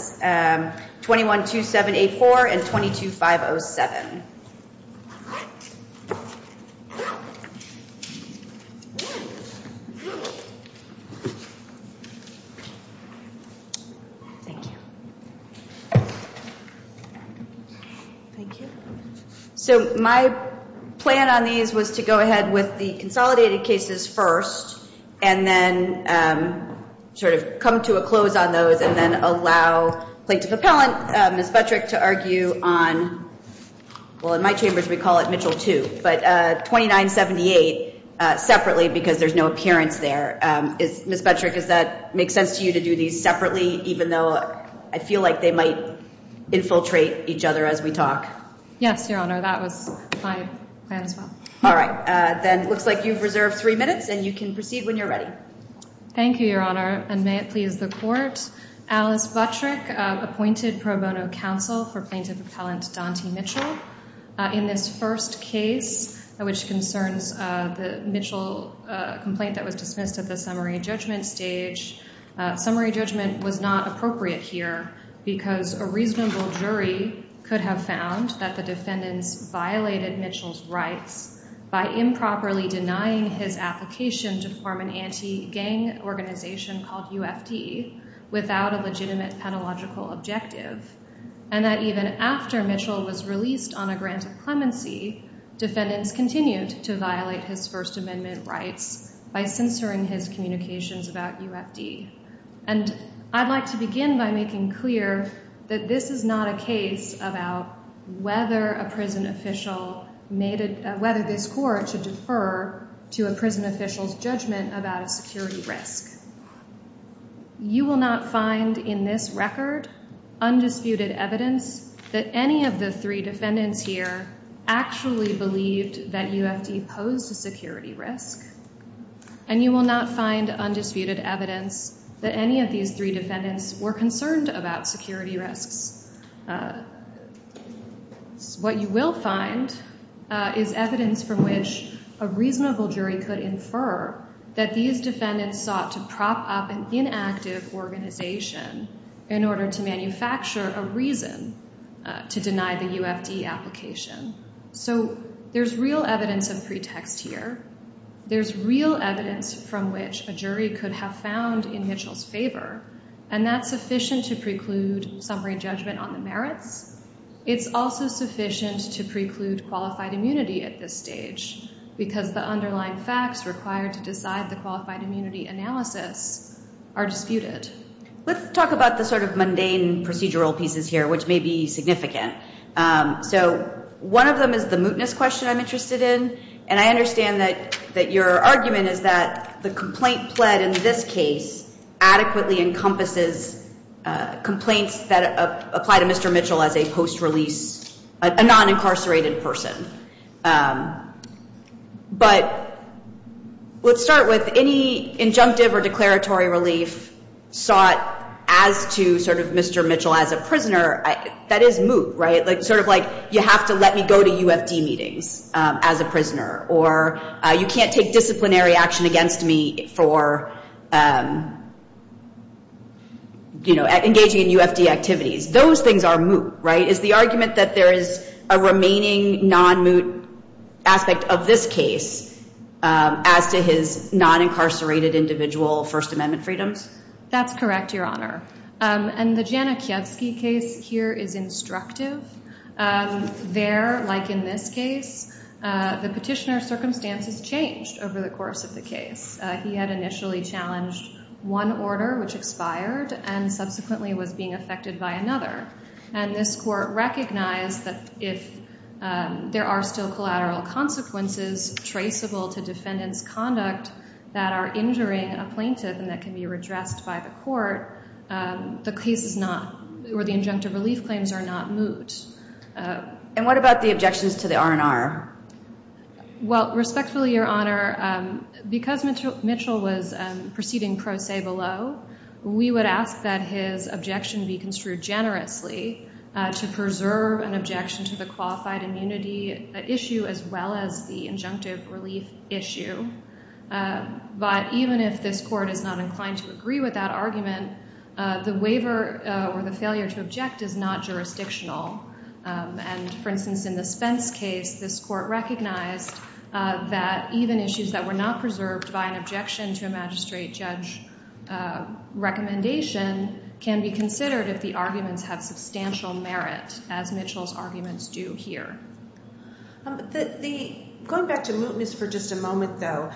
21-2784 and 22-507. So my plan on these was to go ahead with the consolidated cases first and then sort of play to the pellet, Ms. Buttrick to argue on, well, in my chambers we call it Mitchell 2. But 2978 separately because there's no appearance there, Ms. Buttrick, does that make sense to you to do these separately even though I feel like they might infiltrate each other as we talk? Yes, Your Honor. That was my plan as well. All right. Then it looks like you've reserved three minutes and you can proceed when you're ready. Thank you, Your Honor. And may it please the Court, Alice Buttrick appointed pro bono counsel for plaintiff appellant Daunte Mitchell in this first case which concerns the Mitchell complaint that was dismissed at the summary judgment stage. Summary judgment was not appropriate here because a reasonable jury could have found that the defendants violated Mitchell's rights by improperly denying his application to form an anti-gang organization called UFD without a legitimate pedagogical objective. And that even after Mitchell was released on a grant of clemency, defendants continued to violate his First Amendment rights by censoring his communications about UFD. And I'd like to begin by making clear that this is not a case about whether a prison about a security risk. You will not find in this record undisputed evidence that any of the three defendants here actually believed that UFD posed a security risk, and you will not find undisputed evidence that any of these three defendants were concerned about security risks. What you will find is evidence from which a reasonable jury could infer that these defendants sought to prop up an inactive organization in order to manufacture a reason to deny the UFD application. So there's real evidence of pretext here. There's real evidence from which a jury could have found in Mitchell's favor, and that's It's also sufficient to preclude qualified immunity at this stage, because the underlying facts required to decide the qualified immunity analysis are disputed. Let's talk about the sort of mundane procedural pieces here, which may be significant. So one of them is the mootness question I'm interested in. And I understand that your argument is that the complaint pled in this case adequately encompasses complaints that apply to Mr. Mitchell as a post-release, a non-incarcerated person. But let's start with any injunctive or declaratory relief sought as to sort of Mr. Mitchell as a prisoner, that is moot, right? Sort of like, you have to let me go to UFD meetings as a prisoner, or you can't take engaging in UFD activities. Those things are moot, right? Is the argument that there is a remaining non-moot aspect of this case as to his non-incarcerated individual First Amendment freedoms? That's correct, Your Honor. And the Jana Kiewski case here is instructive. There, like in this case, the petitioner's circumstances changed over the course of the case. He had initially challenged one order, which expired, and subsequently was being affected by another. And this court recognized that if there are still collateral consequences traceable to defendant's conduct that are injuring a plaintiff and that can be redressed by the court, the case is not, or the injunctive relief claims are not moot. And what about the objections to the R&R? Well, respectfully, Your Honor, because Mitchell was proceeding pro se below, we would ask that his objection be construed generously to preserve an objection to the qualified immunity issue as well as the injunctive relief issue. But even if this court is not inclined to agree with that argument, the waiver or the failure to object is not jurisdictional. And, for instance, in the Spence case, this court recognized that even issues that were not preserved by an objection to a magistrate judge recommendation can be considered if the arguments have substantial merit, as Mitchell's arguments do here. Going back to mootness for just a moment, though,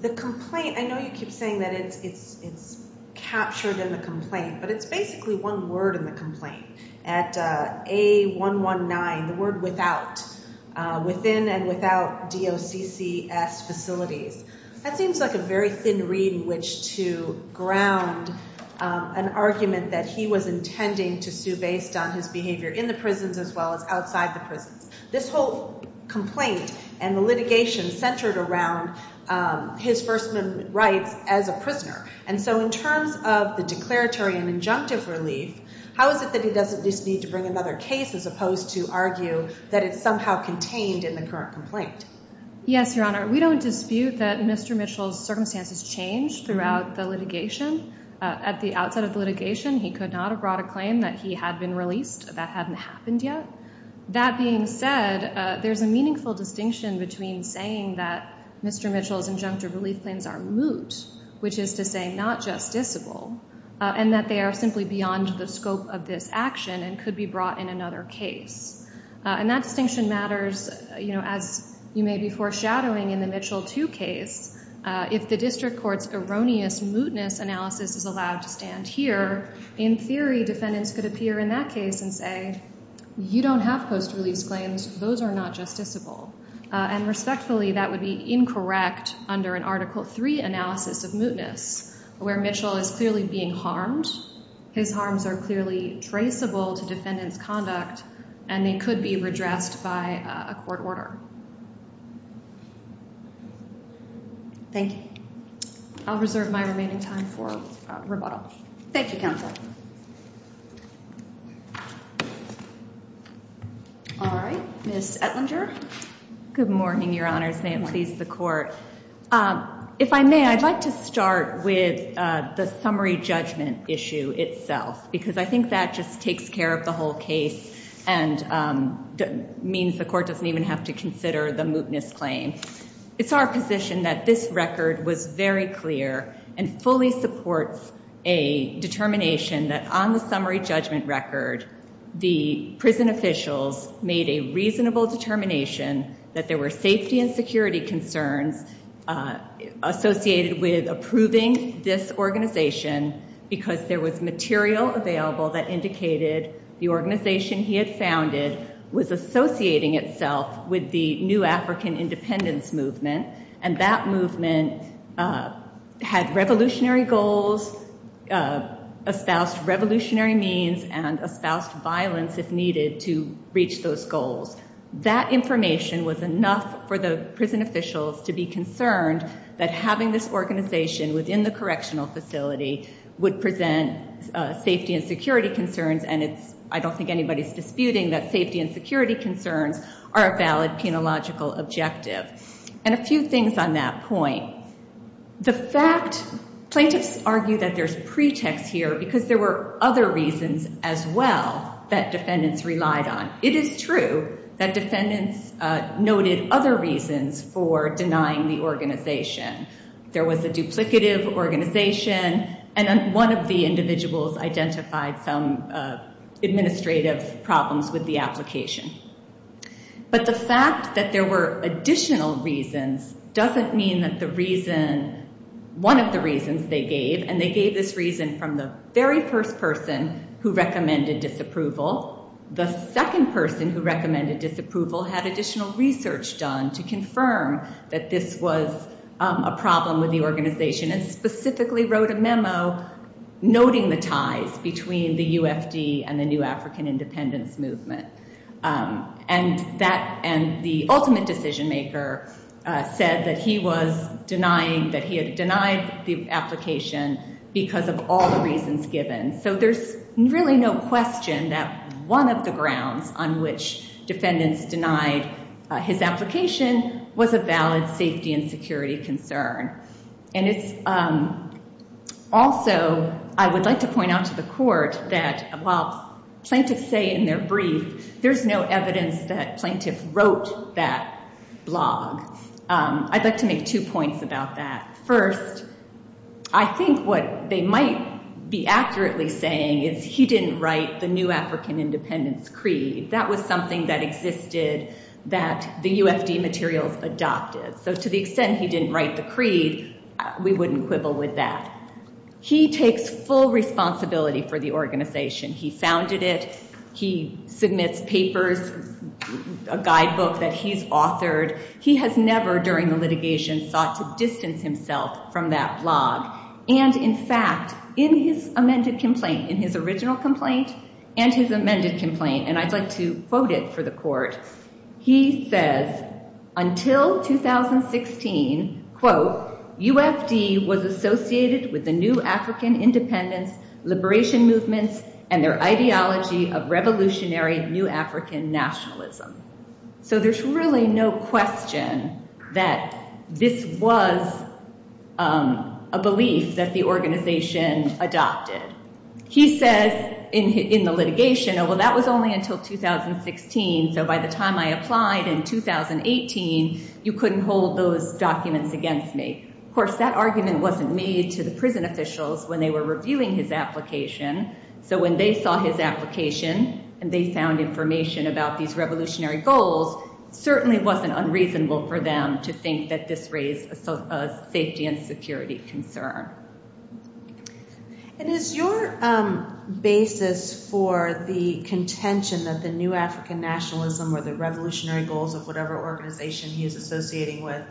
the complaint, I know you keep saying that it's captured in the complaint, but it's basically one word in the complaint. At A119, the word without, within and without DOCCS facilities. That seems like a very thin reed in which to ground an argument that he was intending to sue based on his behavior in the prisons as well as outside the prisons. This whole complaint and the litigation centered around his firstman rights as a prisoner. And so in terms of the declaratory and injunctive relief, how is it that he doesn't just need to bring another case as opposed to argue that it's somehow contained in the current complaint? Yes, Your Honor. We don't dispute that Mr. Mitchell's circumstances changed throughout the litigation. At the outset of the litigation, he could not have brought a claim that he had been released. That hadn't happened yet. That being said, there's a meaningful distinction between saying that Mr. Mitchell's injunctive relief claims are moot, which is to say not justiciable, and that they are simply beyond the scope of this action and could be brought in another case. And that distinction matters, as you may be foreshadowing in the Mitchell 2 case. If the district court's erroneous mootness analysis is allowed to stand here, in theory defendants could appear in that case and say, you don't have post-release claims. Those are not justiciable. And respectfully, that would be incorrect under an Article 3 analysis of mootness, where Mitchell is clearly being harmed. His harms are clearly traceable to defendant's conduct and they could be redressed by a court order. Thank you. I'll reserve my remaining time for rebuttal. Thank you, Counsel. All right. Ms. Ettlinger. Good morning, Your Honors. May it please the Court. If I may, I'd like to start with the summary judgment issue itself, because I think that just takes care of the whole case and means the Court doesn't even have to consider the mootness claim. It's our position that this record was very clear and fully supports a determination that on the summary judgment record, the prison officials made a reasonable determination that there were safety and security concerns associated with approving this organization because there was material available that indicated the organization he had founded was associating itself with the New African Independence Movement. And that movement had revolutionary goals, espoused revolutionary means, and espoused violence if needed to reach those goals. That information was enough for the prison officials to be concerned that having this organization within the correctional facility would present safety and security concerns. And I don't think anybody's disputing that safety and security concerns are a valid penological objective. And a few things on that point. The fact plaintiffs argue that there's pretext here because there were other reasons as well that defendants relied on. It is true that defendants noted other reasons for denying the organization. There was a duplicative organization and one of the individuals identified some administrative problems with the application. But the fact that there were additional reasons doesn't mean that the reason, one of the reasons they gave, and they gave this reason from the very first person who recommended disapproval, the second person who recommended disapproval had additional research done to confirm that this was a problem with the organization and specifically wrote a memo noting the ties between the UFD and the New African Independence Movement. And that, and the ultimate decision maker said that he was denying, that he had denied the application because of all the reasons given. So there's really no question that one of the grounds on which defendants denied his application was a valid safety and security concern. And it's also, I would like to point out to the court that while plaintiffs say in their brief, there's no evidence that plaintiffs wrote that blog. I'd like to make two points about that. First, I think what they might be accurately saying is he didn't write the New African Independence Creed. That was something that existed that the UFD materials adopted. So to the extent he didn't write the creed, we wouldn't quibble with that. He takes full responsibility for the organization. He founded it. He submits papers, a guidebook that he's authored. He has never, during the litigation, sought to distance himself from that blog. And in fact, in his amended complaint, in his original complaint and his amended complaint, and I'd like to quote it for the court. He says, until 2016, quote, UFD was associated with the New African Independence Liberation Movements and their ideology of revolutionary New African nationalism. So there's really no question that this was a belief that the organization adopted. He says in the litigation, oh, well, that was only until 2016. So by the time I applied in 2018, you couldn't hold those documents against me. Of course, that argument wasn't made to the prison officials when they were reviewing his application. So when they saw his application and they found information about these revolutionary goals, certainly it wasn't unreasonable for them to think that this raised a safety and security concern. And is your basis for the contention that the New African nationalism or the revolutionary goals of whatever organization he is associating with,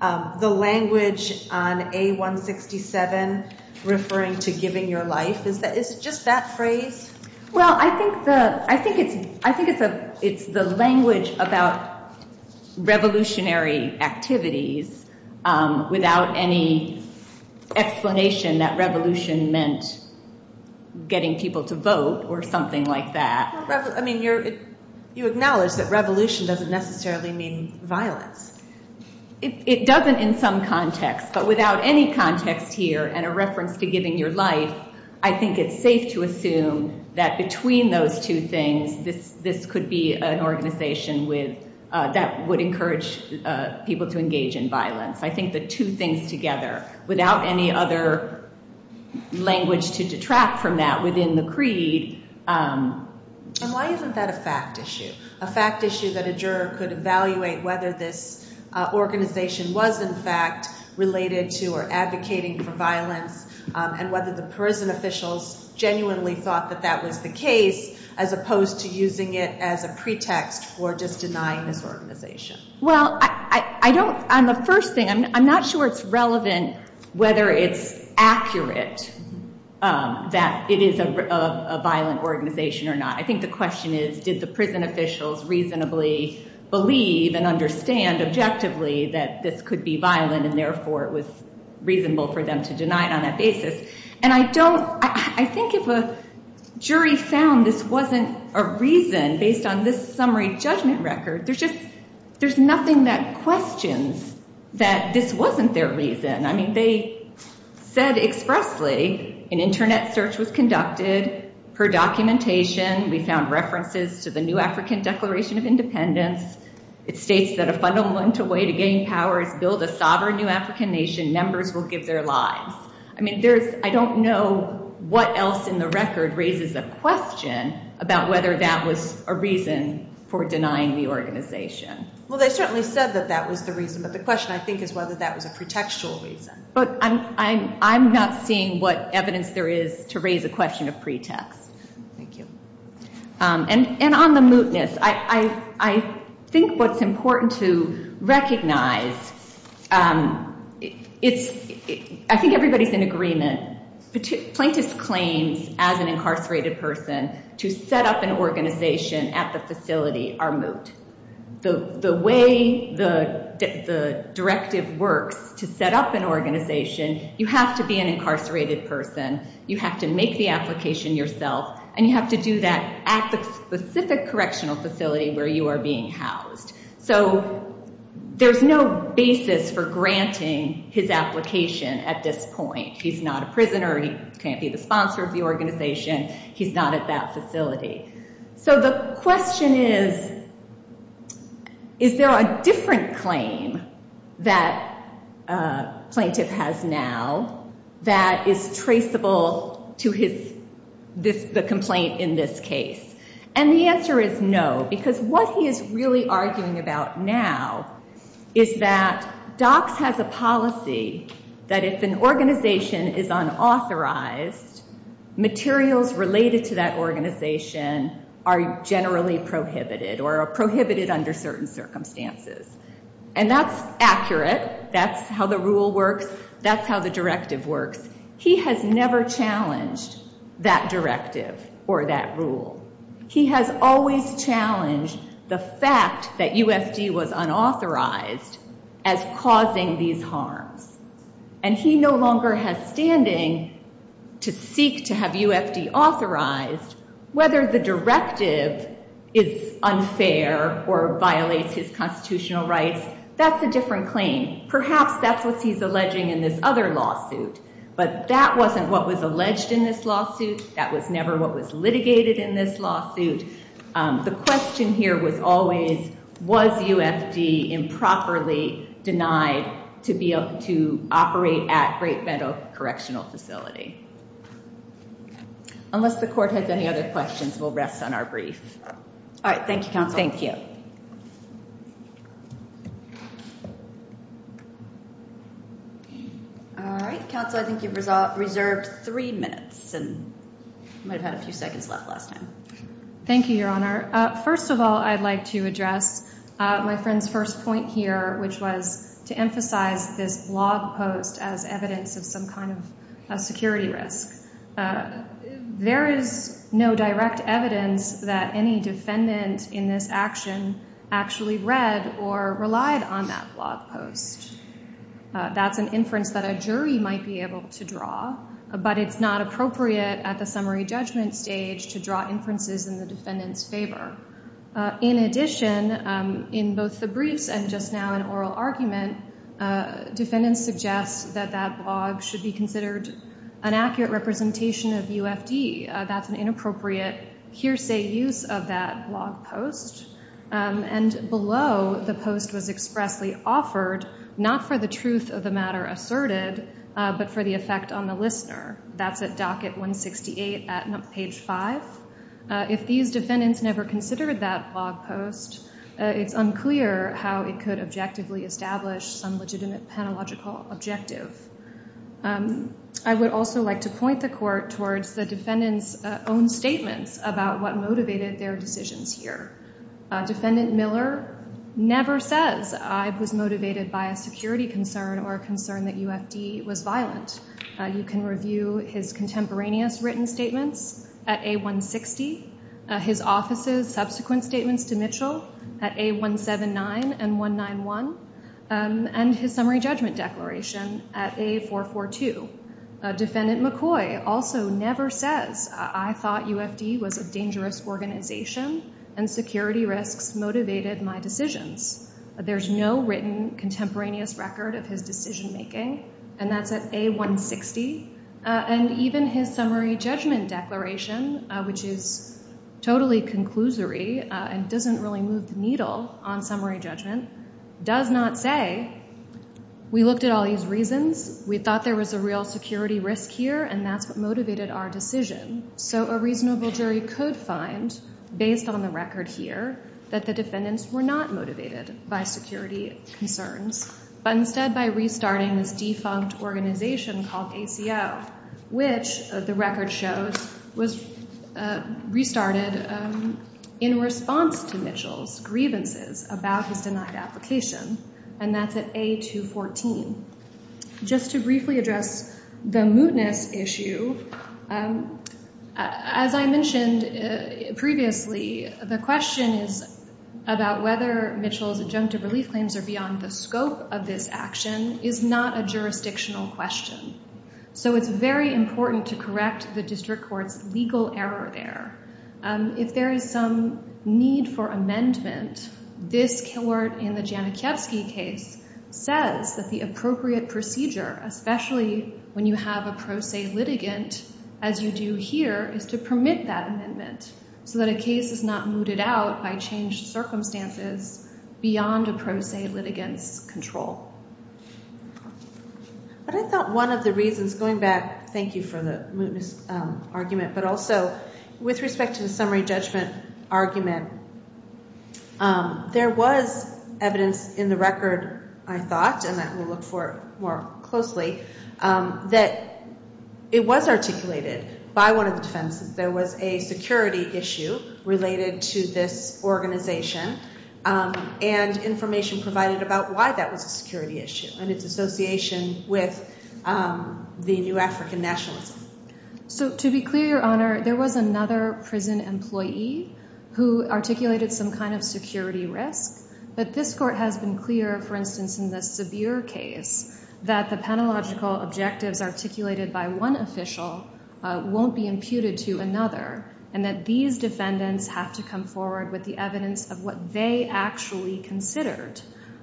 the language on A167 referring to giving your life, is it just that phrase? Well, I think it's the language about revolutionary activities without any explanation that revolution meant getting people to vote or something like that. I mean, you acknowledge that revolution doesn't necessarily mean violence. It doesn't in some context, but without any context here and a reference to giving your life, I think it's safe to assume that between those two things, this could be an organization that would encourage people to engage in violence. I think the two things together without any other language to detract from that within the creed. And why isn't that a fact issue? A fact issue that a juror could evaluate whether this organization was, in fact, related to or advocating for violence and whether the prison officials genuinely thought that that was the case as opposed to using it as a pretext for just denying this organization. Well, I don't, on the first thing, I'm not sure it's relevant whether it's accurate that it is a violent organization or not. I think the question is, did the prison officials reasonably believe and understand objectively that this could be violent and therefore it was reasonable for them to deny it on that basis? And I don't, I think if a jury found this wasn't a reason based on this summary judgment record, there's just, there's nothing that questions that this wasn't their reason. I mean, they said expressly, an internet search was conducted per documentation. We found references to the new African Declaration of Independence. It states that a fundamental way to gain power is build a sovereign new African nation. Members will give their lives. I mean, there's, I don't know what else in the record raises a question about whether that was a reason for denying the organization. Well, they certainly said that that was the reason, but the question, I think, is whether that was a pretextual reason. But I'm not seeing what evidence there is to raise a question of pretext. Thank you. And on the mootness, I think what's important to recognize, it's, I think everybody's in agreement. Plaintiff's claims as an incarcerated person to set up an organization at the facility are moot. The way the directive works to set up an organization, you have to be an incarcerated person. You have to make the application yourself, and you have to do that at the specific correctional facility where you are being housed. So there's no basis for granting his application at this point. He's not a prisoner. He can't be the sponsor of the organization. He's not at that facility. So the question is, is there a different claim that a plaintiff has now that is traceable to the complaint in this case? And the answer is no, because what he is really arguing about now is that DOCS has a policy that if an organization is unauthorized, materials related to that organization are generally prohibited or are prohibited under certain circumstances. And that's accurate. That's how the rule works. That's how the directive works. He has never challenged that directive or that rule. He has always challenged the fact that UFD was unauthorized as causing these harms. And he no longer has standing to seek to have UFD authorized. Whether the directive is unfair or violates his constitutional rights, that's a different claim. Perhaps that's what he's alleging in this other lawsuit. But that wasn't what was alleged in this lawsuit. That was never what was litigated in this lawsuit. The question here was always, was UFD improperly denied to operate at Great Meadow Correctional Facility? Unless the Court has any other questions, we'll rest on our brief. All right. Thank you, Counsel. Thank you. Okay. All right. Counsel, I think you've reserved three minutes. And you might have had a few seconds left last time. Thank you, Your Honor. First of all, I'd like to address my friend's first point here, which was to emphasize this blog post as evidence of some kind of security risk. There is no direct evidence that any defendant in this action actually read or relied on that blog post. That's an inference that a jury might be able to draw. But it's not appropriate at the summary judgment stage to draw inferences in the defendant's favor. In addition, in both the briefs and just now in oral argument, defendants suggest that that blog should be considered an accurate representation of UFD. That's an inappropriate hearsay use of that blog post. And below, the post was expressly offered, not for the truth of the matter asserted, but for the effect on the listener. That's at docket 168 at page 5. If these defendants never considered that blog post, it's unclear how it could objectively establish some legitimate penalogical objective. I would also like to point the court towards the defendant's own statements about what motivated their decisions here. Defendant Miller never says, I was motivated by a security concern or a concern that UFD was violent. You can review his contemporaneous written statements at A160. His office's subsequent statements to Mitchell at A179 and A191. And his summary judgment declaration at A442. Defendant McCoy also never says, I thought UFD was a dangerous organization and security risks motivated my decisions. There's no written contemporaneous record of his decision making, and that's at A160. And even his summary judgment declaration, which is totally conclusory and doesn't really move the needle on summary judgment, does not say, we looked at all these reasons, we thought there was a real security risk here, and that's what motivated our decision. So a reasonable jury could find, based on the record here, that the defendants were not motivated by security concerns, but instead by restarting this defunct organization called ACO, which, the record shows, was restarted in response to Mitchell's grievances about his denied application, and that's at A214. Just to briefly address the mootness issue, as I mentioned previously, the question is about whether Mitchell's adjunctive relief claims are beyond the scope of this action is not a jurisdictional question. So it's very important to correct the district court's legal error there. If there is some need for amendment, this court, in the Janakiewski case, says that the appropriate procedure, especially when you have a pro se litigant, as you do here, is to permit that amendment so that a case is not mooted out by changed circumstances beyond a pro se litigant's control. But I thought one of the reasons, going back, thank you for the mootness argument, but also with respect to the summary judgment argument, there was evidence in the record, I thought, and that we'll look for more closely, that it was articulated by one of the defenses. There was a security issue related to this organization, and information provided about why that was a security issue and its association with the new African nationalism. So to be clear, Your Honor, there was another prison employee who articulated some kind of security risk, but this court has been clear, for instance, in the Sabir case, that the penalogical objectives articulated by one official won't be imputed to another, and that these defendants have to come forward with the evidence of what they actually considered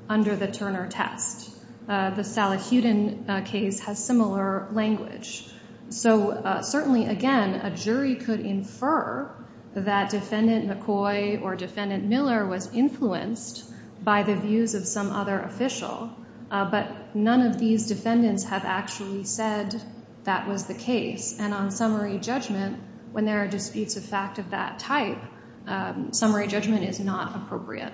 under the Turner test. The Salahuddin case has similar language. So certainly, again, a jury could infer that Defendant McCoy or Defendant Miller was influenced by the views of some other official, but none of these defendants have actually said that was the case, and on summary judgment, when there are disputes of fact of that type, summary judgment is not appropriate.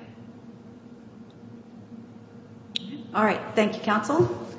All right. Thank you, counsel.